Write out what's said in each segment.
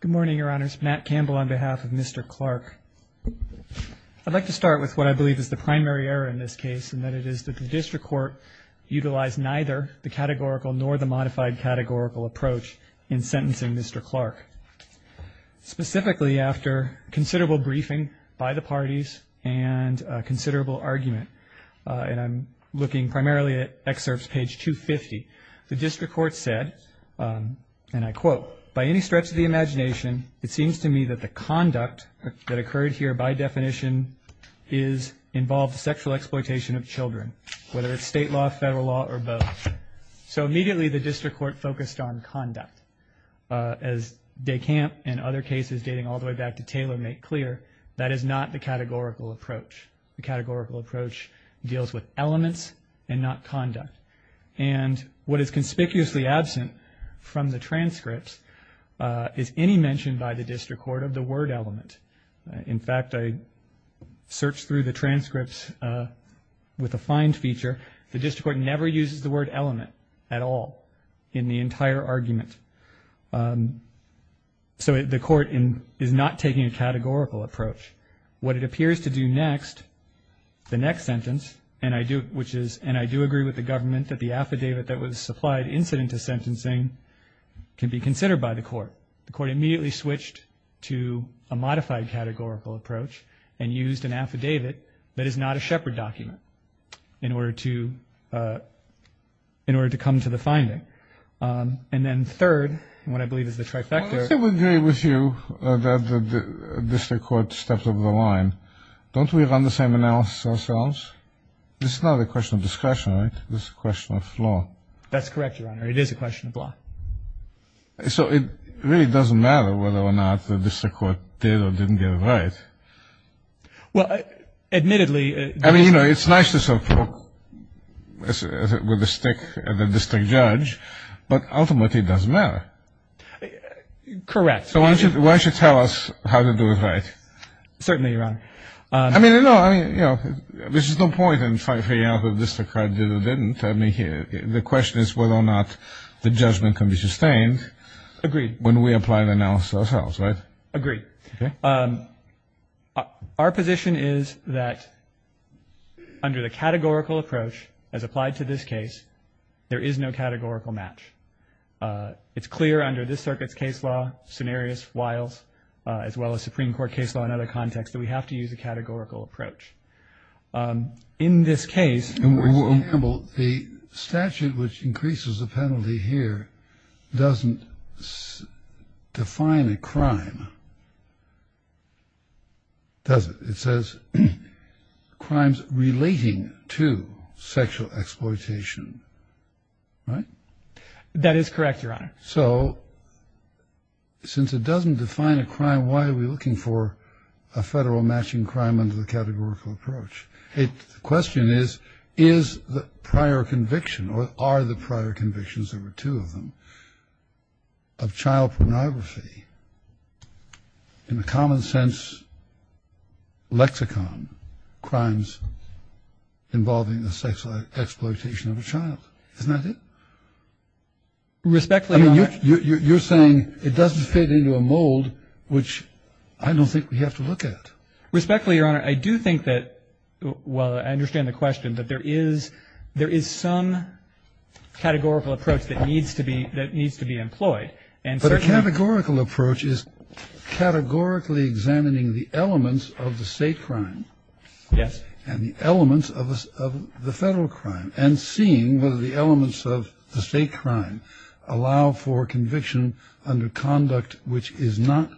Good morning, Your Honors. Matt Campbell on behalf of Mr. Clark. I'd like to start with what I believe is the primary error in this case, and that it is that the district court utilized neither the categorical nor the modified categorical approach in sentencing Mr. Clark. Specifically, after considerable briefing by the parties and a considerable argument, and I'm looking primarily at excerpts page 250, the district court said, and I quote, by any stretch of the imagination, it seems to me that the conduct that occurred here by definition is involved sexual exploitation of children, whether it's state law, federal law, or both. So immediately the district court focused on conduct. As DeCamp and other cases dating all the way back to Taylor make clear, that is not the categorical approach. The categorical approach deals with elements and not conduct. And what is conspicuously absent from the transcripts is any mention by the district court of the word element. In fact, I searched through the transcripts with a find feature. The district court never uses the word element at all in the entire argument. So the court is not taking a categorical approach. What it appears to do next, the next sentence, and I do agree with the government that the affidavit that was supplied incident to sentencing can be considered by the court. The court immediately switched to a modified categorical approach and used an affidavit that is not a Shepard document in order to come to the finding. And then third, what I believe is the trifecta. I would agree with you that the district court stepped over the line. Don't we run the same analysis ourselves? This is not a question of discretion. This is a question of law. That's correct, Your Honor. It is a question of law. So it really doesn't matter whether or not the district court did or didn't get it right. Well, admittedly, I mean, you know, it's nice to sort of poke with a stick at the district judge, but ultimately it doesn't matter. Correct. Why don't you tell us how to do it right? Certainly, Your Honor. I mean, you know, there's no point in trying to figure out if the district court did or didn't. I mean, the question is whether or not the judgment can be sustained. Agreed. When we apply the analysis ourselves, right? Agreed. Our position is that under the categorical approach as applied to this case, there is no categorical match. It's clear under this circuit's case law, scenarios, files, as well as Supreme Court case law and other context, that we have to use a categorical approach. In this case... For example, the statute which increases the penalty here doesn't define a crime, does it? It says crimes relating to sexual exploitation, right? That is correct, Your Honor. So since it doesn't define a crime, why are we looking for a federal matching crime under the categorical approach? The question is, is the prior conviction or are the prior convictions, there were two of them, of child pornography in the common sense lexicon crimes involving the sexual exploitation of a child? Isn't that it? Respectfully, Your Honor... I mean, you're saying it doesn't fit into a mold which I don't think we have to look at. Respectfully, Your Honor, I do think that, while I understand the question, that there is some categorical approach that needs to be employed. But a categorical approach is categorically examining the elements of the state crime... Yes. ...and the elements of the federal crime and seeing whether the elements of the state crime allow for conviction under conduct which is not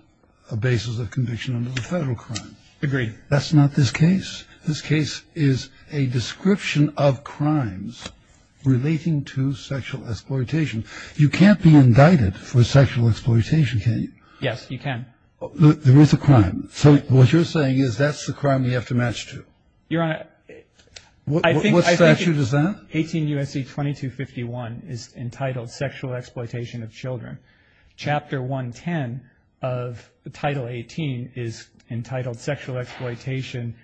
a basis of conviction under the federal crime. Agreed. That's not this case. This case is a description of crimes relating to sexual exploitation. You can't be indicted for sexual exploitation, can you? Yes, you can. There is a crime. So what you're saying is that's the crime we have to match to? Your Honor, I think... What statute is that? 18 U.S.C. 2251 is entitled Sexual Exploitation of Children. Chapter 110 of Title 18 is entitled Sexual Exploitation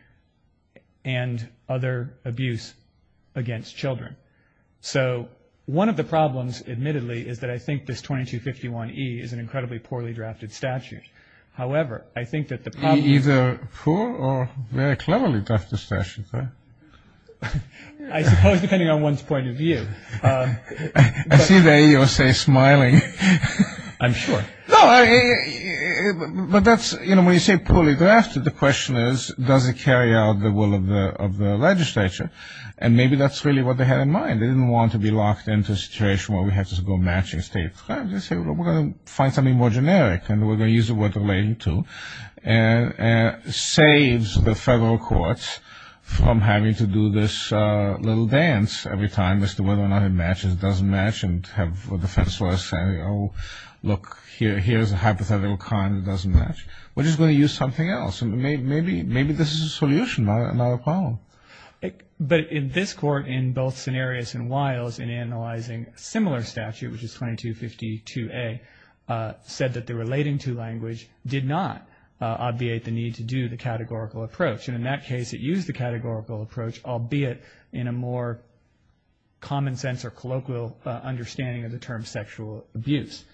and Other Abuse Against Children. So one of the problems, admittedly, is that I think this 2251E is an incredibly poorly drafted statute. However, I think that the problem... Either poor or very cleverly drafted statute, right? I suppose depending on one's point of view. I see the AUSA smiling. I'm sure. No, but that's, you know, when you say poorly drafted, the question is does it carry out the will of the legislature? And maybe that's really what they had in mind. They didn't want to be locked into a situation where we had to go matching state crime. They said, well, we're going to find something more generic, and we're going to use the word relating to, and saves the federal courts from having to do this little dance every time as to whether or not it matches, doesn't match, and have defense lawyers say, oh, look, here's a hypothetical crime that doesn't match. We're just going to use something else. Maybe this is a solution, not a problem. But in this court, in both Cenarius and Wiles, in analyzing a similar statute, which is 2252A, said that the relating to language did not obviate the need to do the categorical approach. And in that case it used the categorical approach, albeit in a more common sense or colloquial understanding of the term sexual abuse.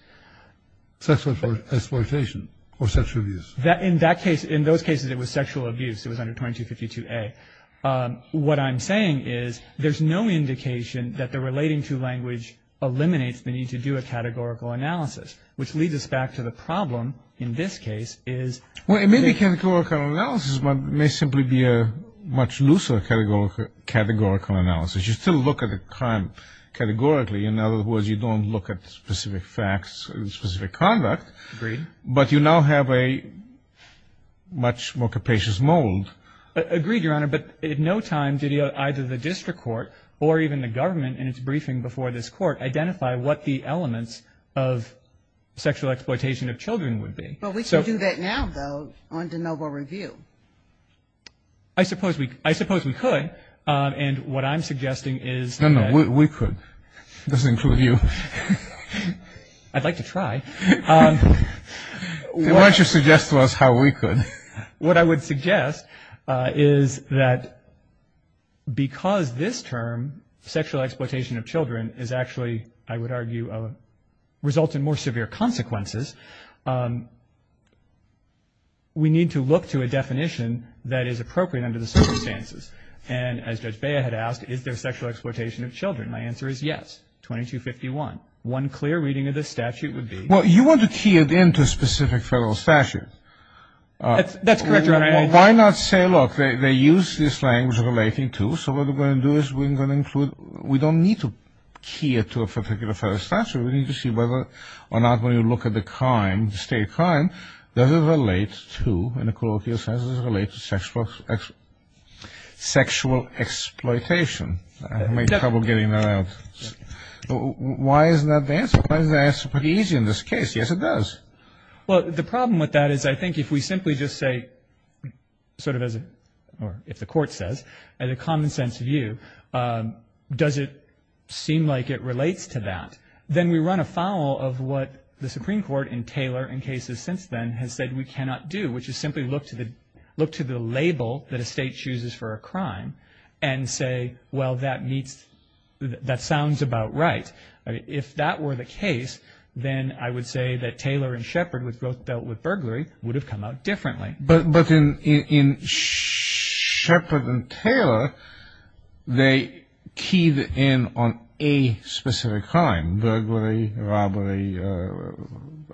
Sexual exploitation or sexual abuse? In that case, in those cases, it was sexual abuse. It was under 2252A. What I'm saying is there's no indication that the relating to language eliminates the need to do a categorical analysis, which leads us back to the problem in this case is. Well, it may be categorical analysis, but it may simply be a much looser categorical analysis. You still look at the crime categorically. In other words, you don't look at specific facts and specific conduct. Agreed. But you now have a much more capacious mold. Agreed, Your Honor. But in no time did either the district court or even the government in its briefing before this court identify what the elements of sexual exploitation of children would be. But we can do that now, though, under noble review. I suppose we could. And what I'm suggesting is that. No, no, we could. This includes you. I'd like to try. Why don't you suggest to us how we could? What I would suggest is that because this term, sexual exploitation of children, is actually, I would argue, results in more severe consequences, we need to look to a definition that is appropriate under the circumstances. And as Judge Bea had asked, is there sexual exploitation of children? My answer is yes, 2251. One clear reading of this statute would be. Well, you want to key it into a specific federal statute. That's correct, Your Honor. Why not say, look, they use this language relating to, so what we're going to do is we're going to include, we don't need to key it to a particular federal statute. We need to see whether or not when you look at the crime, the state crime, does it relate to, in a colloquial sense, does it relate to sexual exploitation? I made trouble getting that out. Why isn't that the answer? Why isn't the answer pretty easy in this case? Yes, it does. Well, the problem with that is I think if we simply just say, sort of as, or if the court says, in a common sense view, does it seem like it relates to that, then we run afoul of what the Supreme Court in Taylor, in cases since then, has said we cannot do, which is simply look to the label that a state chooses for a crime and say, well, that meets, that sounds about right. If that were the case, then I would say that Taylor and Shepard, which both dealt with burglary, would have come out differently. But in Shepard and Taylor, they keyed in on a specific crime, burglary, robbery,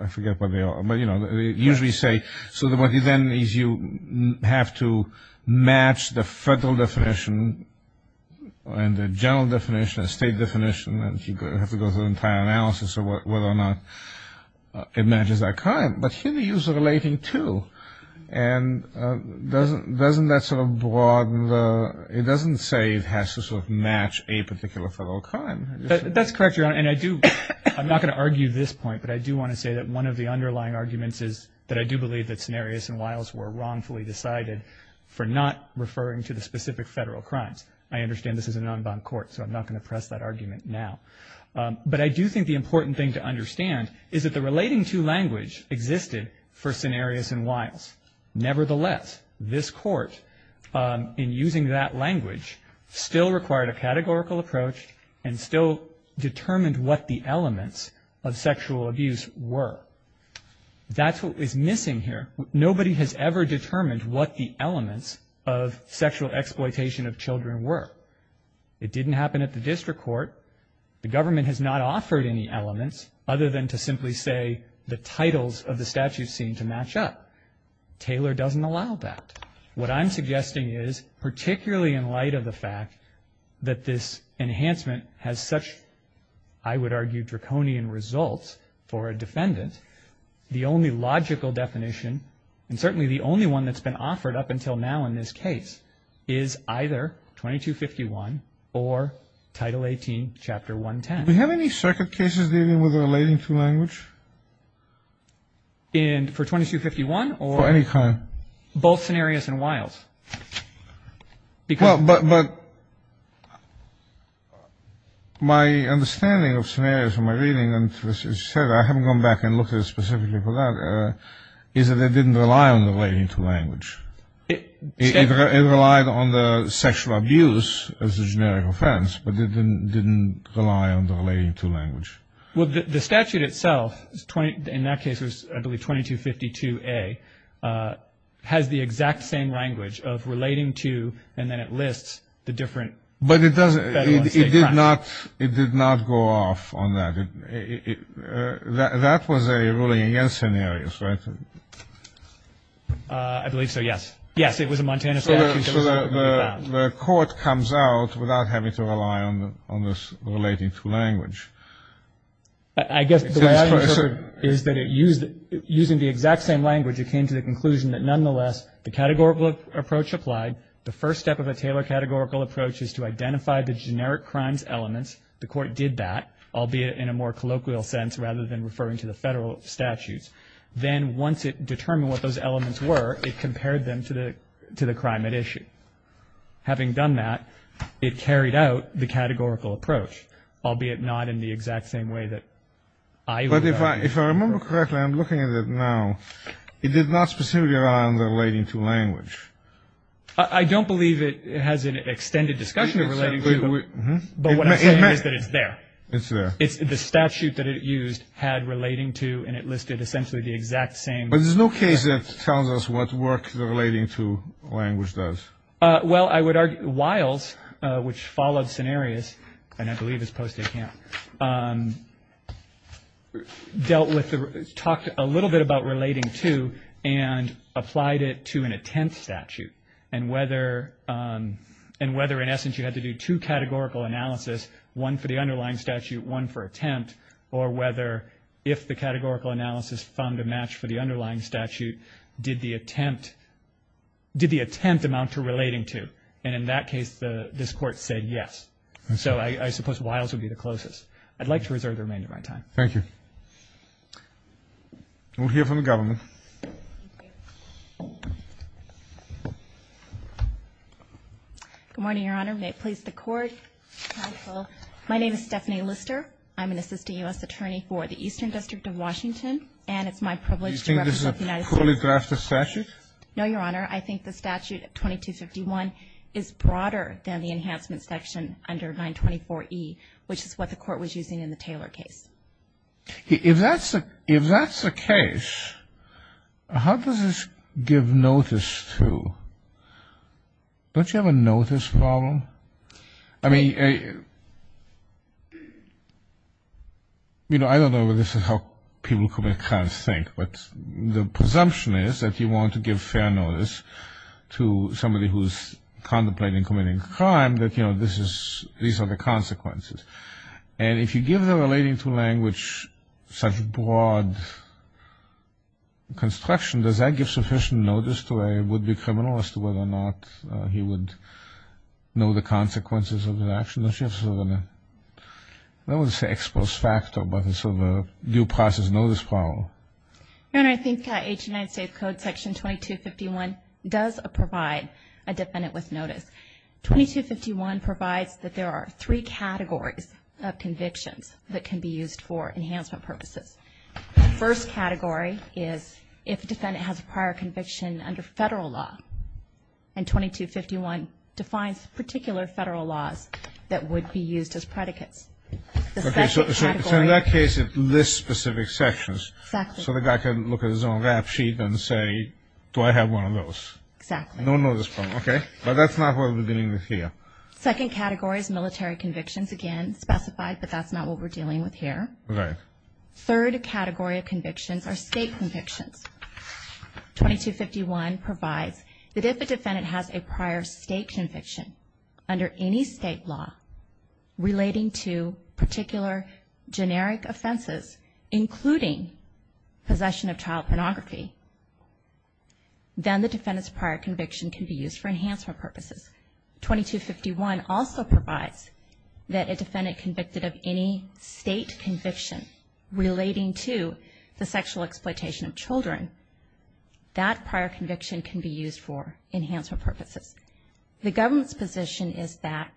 I forget what they are, but, you know, usually say, so what you then is you have to match the federal definition and the general definition, the state definition, and you have to go through an entire analysis of whether or not it matches that crime. But here they use the relating to, and doesn't that sort of broaden the, it doesn't say it has to sort of match a particular federal crime. That's correct, Your Honor, and I do, I'm not going to argue this point, but I do want to say that one of the underlying arguments is that I do believe that Cenarius and Wiles were wrongfully decided for not referring to the specific federal crimes. I understand this is a non-bond court, so I'm not going to press that argument now. But I do think the important thing to understand is that the relating to language existed for Cenarius and Wiles. Nevertheless, this court, in using that language, still required a categorical approach and still determined what the elements of sexual abuse were. That's what is missing here. Nobody has ever determined what the elements of sexual exploitation of children were. It didn't happen at the district court. The government has not offered any elements other than to simply say the titles of the statute seem to match up. Taylor doesn't allow that. What I'm suggesting is, particularly in light of the fact that this enhancement has such, I would argue, draconian results for a defendant, the only logical definition, and certainly the only one that's been offered up until now in this case, is either 2251 or Title 18, Chapter 110. Do we have any second cases dealing with the relating to language? For 2251 or? For any kind. Both Cenarius and Wiles. But my understanding of Cenarius in my reading, and as I said, I haven't gone back and looked at it specifically for that, is that it didn't rely on the relating to language. It relied on the sexual abuse as a generic offense, but it didn't rely on the relating to language. Well, the statute itself, in that case it was, I believe, 2252A, has the exact same language of relating to, and then it lists the different federal and state. But it did not go off on that. That was a ruling against Cenarius, right? I believe so, yes. Yes, it was a Montana statute. So the court comes out without having to rely on the relating to language. I guess the way I understood it is that using the exact same language, it came to the conclusion that nonetheless the categorical approach applied. The first step of a Taylor categorical approach is to identify the generic crimes elements. The court did that, albeit in a more colloquial sense rather than referring to the federal statutes. Then once it determined what those elements were, it compared them to the crime. Having done that, it carried out the categorical approach, albeit not in the exact same way that I would have done it. But if I remember correctly, I'm looking at it now, it did not specifically rely on the relating to language. I don't believe it has an extended discussion of relating to, but what I'm saying is that it's there. It's there. The statute that it used had relating to, and it listed essentially the exact same. But there's no case that tells us what work the relating to language does. Well, I would argue Wiles, which followed scenarios, and I believe is post-Day Camp, dealt with, talked a little bit about relating to, and applied it to an attempt statute, and whether in essence you had to do two categorical analysis, one for the underlying statute, one for attempt, or whether if the categorical analysis found a match for the underlying statute, did the attempt amount to relating to? And in that case, this Court said yes. So I suppose Wiles would be the closest. I'd like to reserve the remainder of my time. Thank you. We'll hear from the government. Good morning, Your Honor. May it please the Court. Hi, Phil. My name is Stephanie Lister. I'm an assistant U.S. attorney for the Eastern District of Washington, and it's my privilege to represent the United States. Do you think this is a poorly drafted statute? No, Your Honor. I think the statute 2251 is broader than the enhancement section under 924E, which is what the Court was using in the Taylor case. If that's the case, how does this give notice to? Don't you have a notice problem? I mean, you know, I don't know how people commit crimes think, but the presumption is that you want to give fair notice to somebody who's contemplating committing a crime that, you know, these are the consequences. And if you give the relating to language such broad construction, does that give sufficient notice to a would-be criminal as to whether or not he would know the consequences of his actions? Don't you have sort of a, I don't want to say exposed factor, but sort of a due process notice problem? Your Honor, I think H. United States Code section 2251 does provide a defendant with notice. 2251 provides that there are three categories of convictions that can be used for enhancement purposes. The first category is if a defendant has a prior conviction under federal law, and 2251 defines particular federal laws that would be used as predicates. Okay, so in that case, it lists specific sections. Exactly. So the guy can look at his own rap sheet and say, do I have one of those? Exactly. No notice problem, okay. But that's not what we're dealing with here. Second category is military convictions, again, specified, but that's not what we're dealing with here. Right. Third category of convictions are state convictions. 2251 provides that if a defendant has a prior state conviction under any state law relating to particular generic offenses, including possession of child pornography, then the defendant's prior conviction can be used for enhancement purposes. 2251 also provides that a defendant convicted of any state conviction relating to the sexual exploitation of children, that prior conviction can be used for enhancement purposes. The government's position is that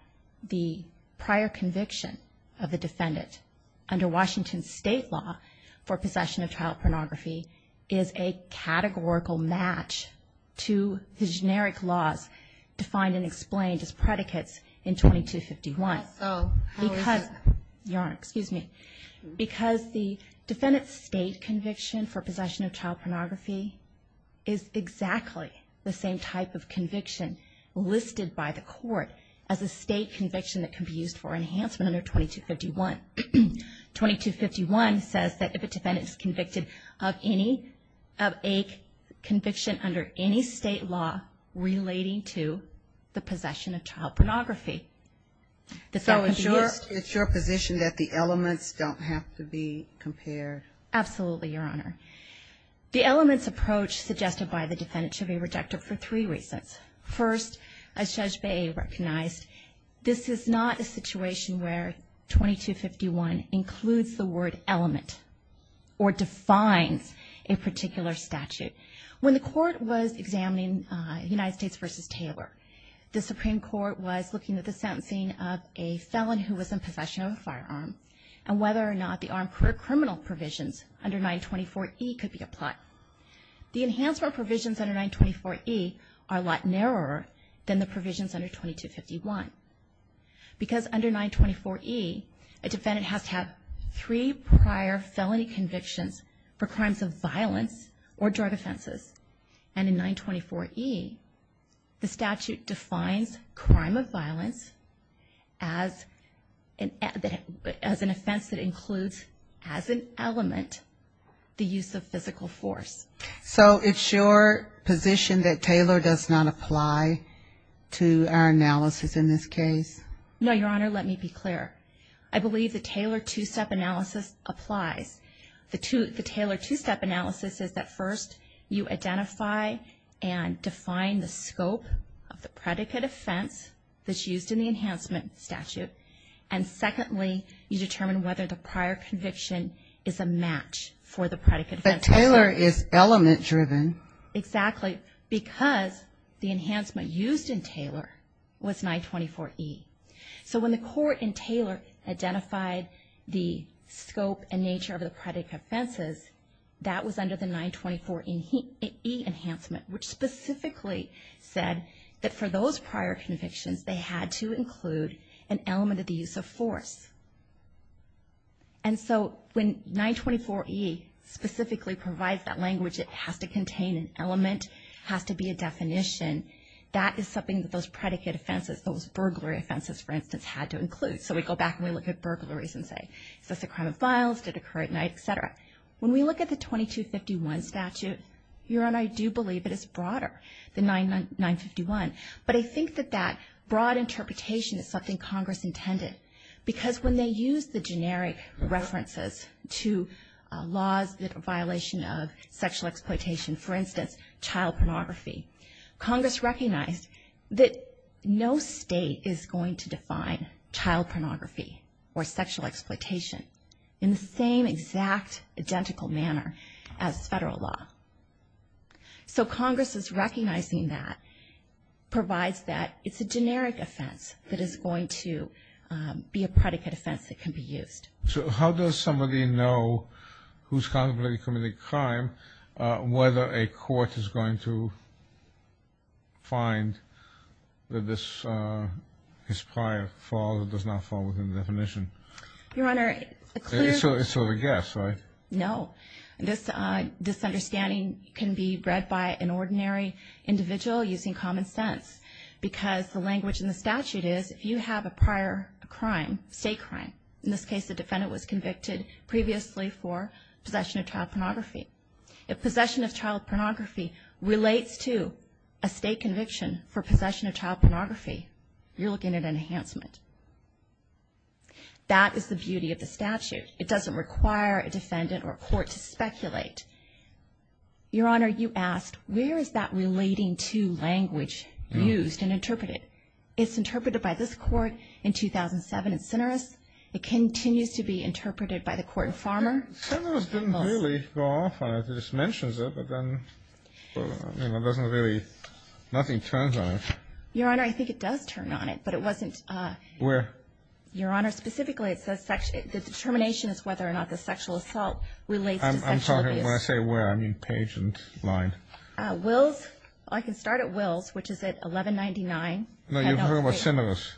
the prior conviction of the defendant under Washington state law for possession of child pornography is a categorical match to the generic laws defined and explained as predicates in 2251. Also, how is that? Your Honor, excuse me. Because the defendant's state conviction for possession of child pornography is exactly the same type of conviction listed by the court as a state conviction that can be used for enhancement under 2251. 2251 says that if a defendant is convicted of any, of a conviction under any state law relating to the possession of child pornography. So it's your position that the elements don't have to be compared? Absolutely, Your Honor. The elements approach suggested by the defendant should be rejected for three reasons. First, as Judge Baey recognized, this is not a situation where 2251 includes the word element or defines a particular statute. When the court was examining United States v. Taylor, the Supreme Court was looking at the sentencing of a felon who was in possession of a firearm and whether or not the armed criminal provisions under 924E could be applied. The enhancement provisions under 924E are a lot narrower than the provisions under 2251. Because under 924E, a defendant has to have three prior felony convictions for crimes of violence or drug offenses. And in 924E, the statute defines crime of violence as an offense that includes as an element the use of physical force. So it's your position that Taylor does not apply to our analysis in this case? No, Your Honor, let me be clear. I believe the Taylor two-step analysis applies. The Taylor two-step analysis is that first you identify and define the scope of the predicate offense that's used in the enhancement statute. And secondly, you determine whether the prior conviction is a match for the predicate offense. But Taylor is element-driven. Exactly. Because the enhancement used in Taylor was 924E. So when the court in Taylor identified the scope and nature of the predicate offenses, that was under the 924E enhancement, which specifically said that for those prior convictions, they had to include an element of the use of force. And so when 924E specifically provides that language, it has to contain an element, has to be a definition. That is something that those predicate offenses, those burglary offenses, for instance, had to include. So we go back and we look at burglaries and say, is this a crime of violence? Did it occur at night? Et cetera. When we look at the 2251 statute, you and I do believe that it's broader than 951. But I think that that broad interpretation is something Congress intended. Because when they use the generic references to laws that are a violation of sexual exploitation, for instance, child pornography, Congress recognized that no state is going to define child pornography or sexual exploitation in the same exact identical manner as federal law. So Congress's recognizing that provides that it's a generic offense that is going to be a predicate offense that can be used. So how does somebody know who's contemplating committing a crime, whether a court is going to find that his prior father does not fall within the definition? Your Honor, a clear- It's sort of a guess, right? No. This understanding can be read by an ordinary individual using common sense. Because the language in the statute is if you have a prior crime, state crime, in this case the defendant was convicted previously for possession of child pornography. If possession of child pornography relates to a state conviction for possession of child pornography, you're looking at an enhancement. That is the beauty of the statute. It doesn't require a defendant or a court to speculate. Your Honor, you asked, where is that relating to language used and interpreted? It's interpreted by this Court in 2007 in Cineris. It continues to be interpreted by the court in Farmer. Cineris didn't really go off on it. It just mentions it, but then it doesn't really, nothing turns on it. Your Honor, I think it does turn on it, but it wasn't- Where? Your Honor, specifically it says the determination is whether or not the sexual assault relates to sexual abuse. I'm talking, when I say where, I mean page and line. Wills, I can start at Wills, which is at 1199. No, you've heard about Cineris.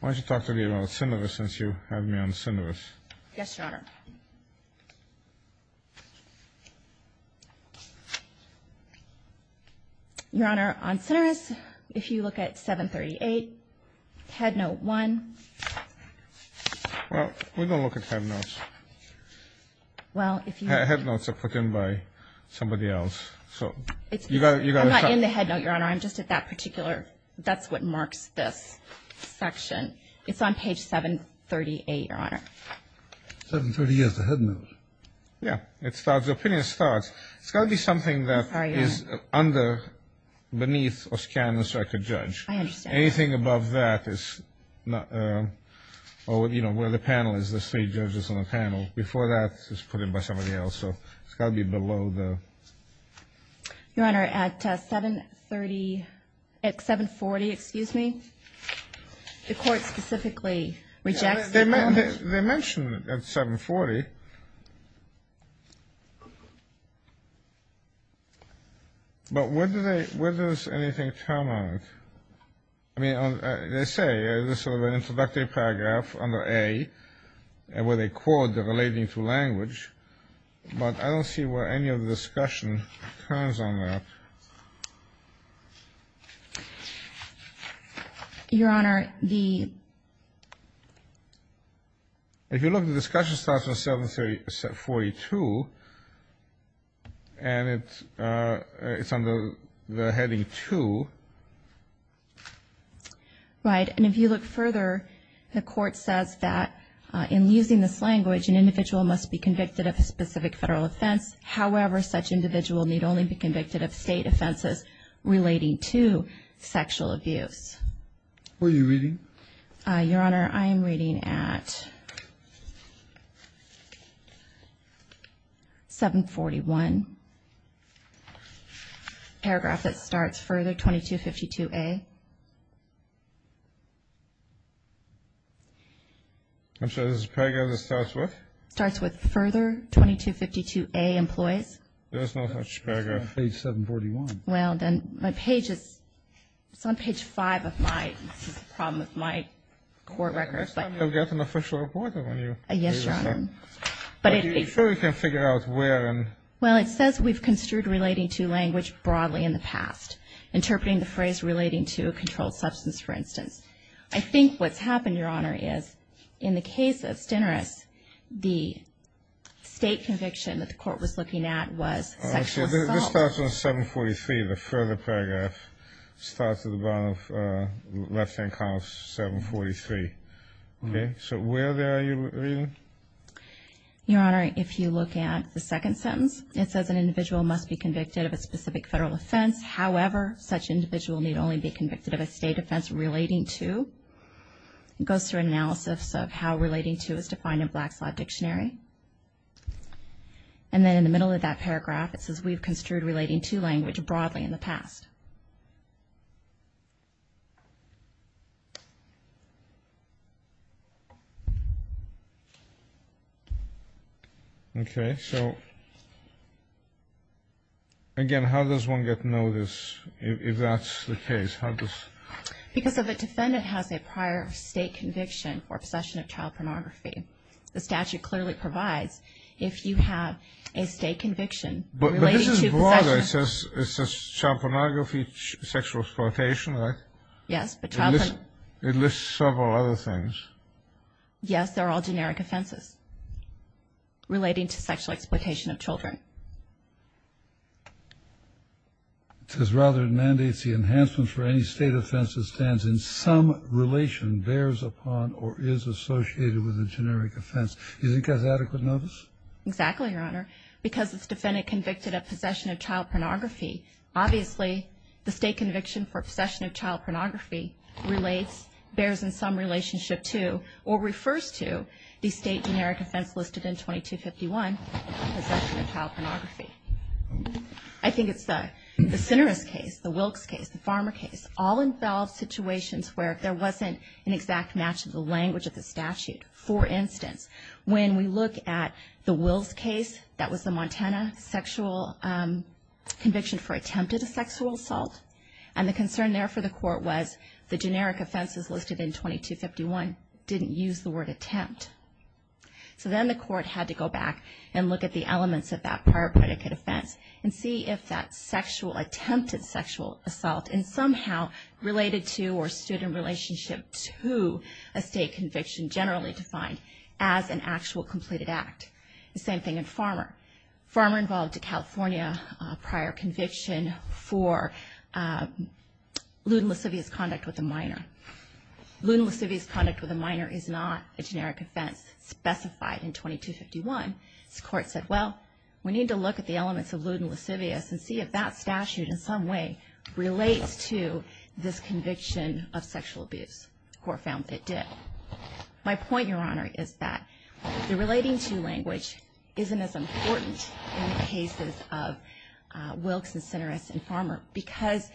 Why don't you talk to me about Cineris since you have me on Cineris. Yes, Your Honor. Your Honor, on Cineris, if you look at 738, Headnote 1. Well, we don't look at headnotes. Well, if you- Headnotes are put in by somebody else. I'm not in the headnote, Your Honor. I'm just at that particular, that's what marks this section. It's on page 738, Your Honor. 738 is the headnote. Yeah. The opinion starts. It's got to be something that is under, beneath, or scan the circuit judge. I understand. Anything above that is, you know, where the panel is, the state judges on the panel. Before that, it's put in by somebody else. So it's got to be below the- Your Honor, at 730, at 740, excuse me, the court specifically rejects- They mention at 740, but where do they, where does anything come out? I mean, they say this is an introductory paragraph under A, where they quote the relating to language, but I don't see where any of the discussion turns on that. Your Honor, the- If you look, the discussion starts at 742, and it's under the heading 2. Right. And if you look further, the court says that in using this language, an individual must be convicted of a specific Federal offense. However, such individual need only be convicted of State offenses relating to sexual abuse. Who are you reading? Your Honor, I am reading at 741, paragraph that starts further, 2252A. I'm sorry, this is a paragraph that starts with? Starts with further, 2252A, employees. There's no such paragraph. Page 741. Well, then, my page is, it's on page 5 of my, this is a problem with my court records. You'll get an official reporter when you- Yes, Your Honor. Are you sure you can figure out where and- Well, it says we've construed relating to language broadly in the past, interpreting the phrase relating to a controlled substance, for instance. I think what's happened, Your Honor, is in the case of Stinnerus, the State conviction that the court was looking at was sexual assault. This starts on 743, the further paragraph. Starts at the bottom of left-hand column 743. Okay. So where are you reading? Your Honor, if you look at the second sentence, it says an individual must be convicted of a specific Federal offense. However, such individual need only be convicted of a State offense relating to. It goes through analysis of how relating to is defined in Black's Law Dictionary. And then in the middle of that paragraph, it says, we've construed relating to language broadly in the past. Okay. So, again, how does one get notice if that's the case? How does- Because if a defendant has a prior State conviction or possession of child pornography, the statute clearly provides if you have a State conviction- It says child pornography, sexual exploitation, right? Yes, but- It lists several other things. Yes, they're all generic offenses relating to sexual exploitation of children. It says rather it mandates the enhancement for any State offense that stands in some relation, bears upon, or is associated with a generic offense. Do you think that's adequate notice? Exactly, Your Honor. Because if the defendant convicted of possession of child pornography, obviously the State conviction for possession of child pornography relates, bears in some relationship to, or refers to the State generic offense listed in 2251, possession of child pornography. I think it's the Sinneres case, the Wilkes case, the Farmer case, all involve situations where there wasn't an exact match of the language of the statute. For instance, when we look at the Wills case, that was the Montana sexual conviction for attempted sexual assault, and the concern there for the court was the generic offenses listed in 2251 didn't use the word attempt. So then the court had to go back and look at the elements of that prior predicate offense and see if that sexual attempt at sexual assault and somehow related to or stood in relationship to a State conviction generally defined as an actual completed act. The same thing in Farmer. Farmer involved a California prior conviction for lewd and lascivious conduct with a minor. Lewd and lascivious conduct with a minor is not a generic offense specified in 2251. The court said, well, we need to look at the elements of lewd and lascivious and see if that statute in some way relates to this conviction of sexual abuse, or found that it did. My point, Your Honor, is that the relating to language isn't as important in the cases of Wilkes and Sinneres and Farmer because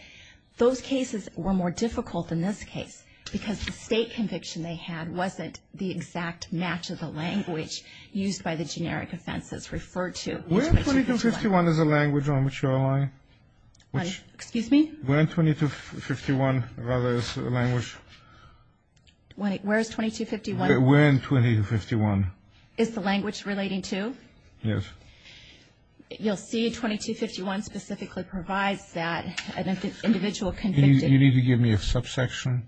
those cases were more difficult than this case because the State conviction they had wasn't the exact match of the language used by the generic offense that's referred to. Where in 2251 is the language on which you're allying? Excuse me? Where in 2251, rather, is the language? Where is 2251? Where in 2251? Is the language relating to? Yes. You'll see 2251 specifically provides that an individual convicted. You need to give me a subsection.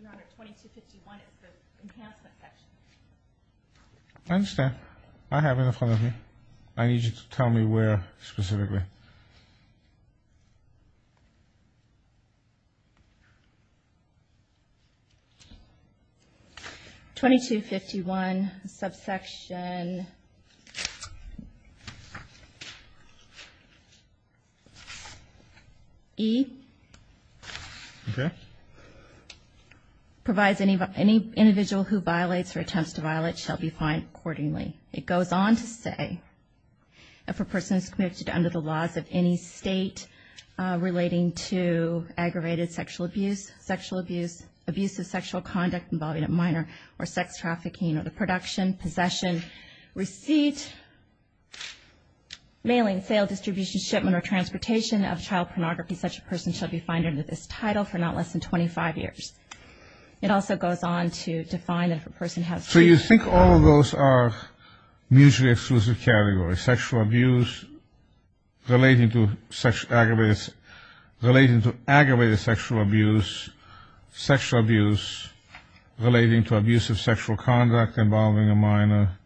Your Honor, 2251 is the enhancement section. I understand. I have it in front of me. I need you to tell me where specifically. 2251, subsection E. Okay. Provides any individual who violates or attempts to violate shall be fined accordingly. It goes on to say if a person is convicted under the laws of any State relating to aggravated sexual abuse, sexual abuse, abuse of sexual conduct involving a minor, or sex trafficking, or the production, possession, receipt, mailing, sale, distribution, shipment, or transportation of child pornography, such a person shall be fined under this title for not less than 25 years. It also goes on to define if a person has. So you think all of those are mutually exclusive categories? Sexual abuse relating to aggravated sexual abuse, sexual abuse relating to abuse of sexual conduct involving a minor,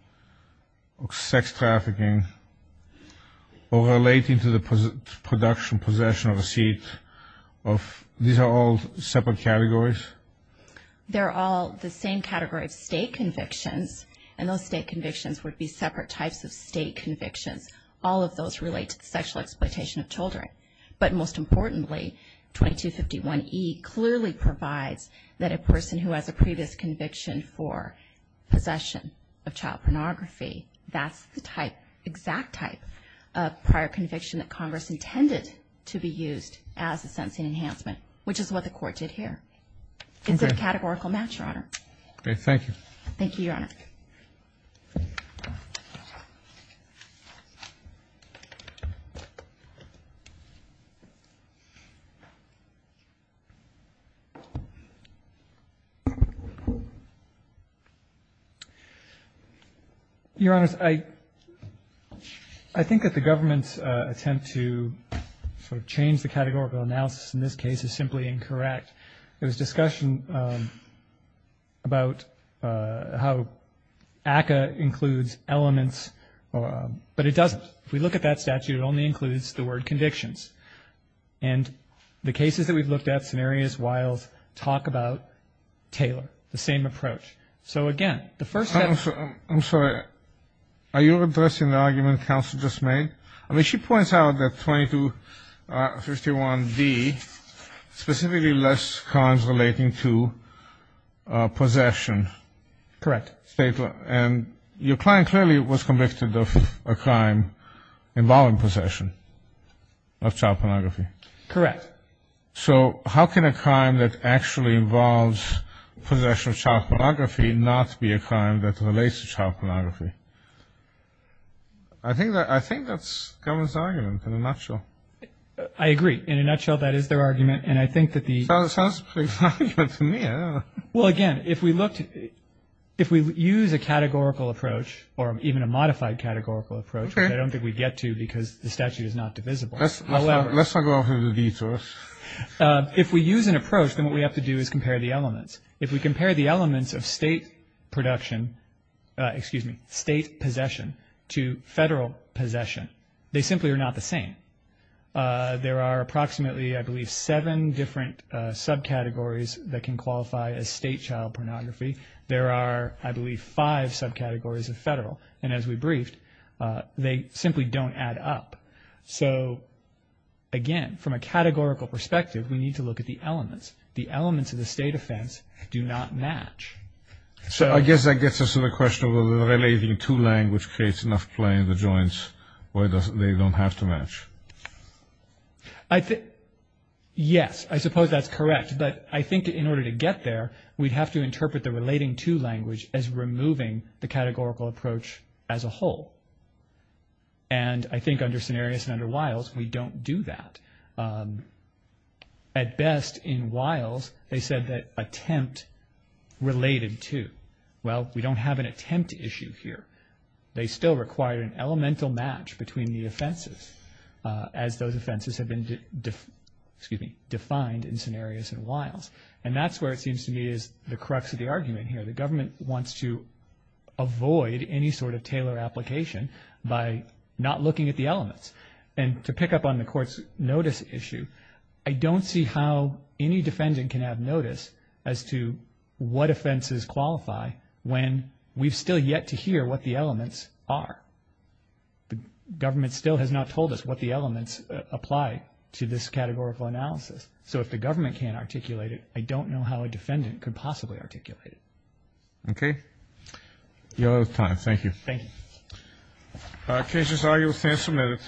or sex trafficking, or relating to the production, possession, or receipt? These are all separate categories? They're all the same category of State convictions, and those State convictions would be separate types of State convictions. All of those relate to the sexual exploitation of children. But most importantly, 2251E clearly provides that a person who has a previous conviction for possession of child pornography, that's the type, exact type of prior conviction that Congress intended to be used as a sentencing enhancement, which is what the Court did here. Is it a categorical match, Your Honor? Okay. Thank you. Thank you, Your Honor. Your Honors, I think that the government's attempt to sort of change the categorical analysis in this case is simply incorrect. There was discussion about how ACCA includes elements, but it doesn't. If we look at that statute, it only includes the word convictions. And the cases that we've looked at, scenarios, wiles, talk about Taylor, the same approach. So, again, the first step — I'm sorry. Are you addressing the argument counsel just made? I mean, she points out that 2251D specifically lists crimes relating to possession. Correct. And your client clearly was convicted of a crime involving possession of child pornography. Correct. So how can a crime that actually involves possession of child pornography not be a crime that relates to child pornography? I think that's the government's argument, in a nutshell. I agree. In a nutshell, that is their argument. And I think that the — Sounds like an argument to me. I don't know. Well, again, if we use a categorical approach, or even a modified categorical approach, which I don't think we get to because the statute is not divisible, however — Let's not go over the details. If we use an approach, then what we have to do is compare the elements. If we compare the elements of state production — excuse me, state possession to federal possession, they simply are not the same. There are approximately, I believe, seven different subcategories that can qualify as state child pornography. There are, I believe, five subcategories of federal. And as we briefed, they simply don't add up. So, again, from a categorical perspective, we need to look at the elements. The elements of the state offense do not match. So I guess that gets us to the question of whether the relating to language creates enough play in the joints, why they don't have to match. Yes, I suppose that's correct. But I think in order to get there, we'd have to interpret the relating to language as removing the categorical approach as a whole. And I think under Cenarius and under Wiles, we don't do that. At best, in Wiles, they said that attempt related to. Well, we don't have an attempt issue here. They still require an elemental match between the offenses, as those offenses have been defined in Cenarius and Wiles. And that's where it seems to me is the crux of the argument here. The government wants to avoid any sort of tailor application by not looking at the elements. And to pick up on the court's notice issue, I don't see how any defendant can have notice as to what offenses qualify when we've still yet to hear what the elements are. The government still has not told us what the elements apply to this categorical analysis. So if the government can't articulate it, I don't know how a defendant could possibly articulate it. Okay. You're out of time. Thank you. Thank you. Cases are, your time is submitted.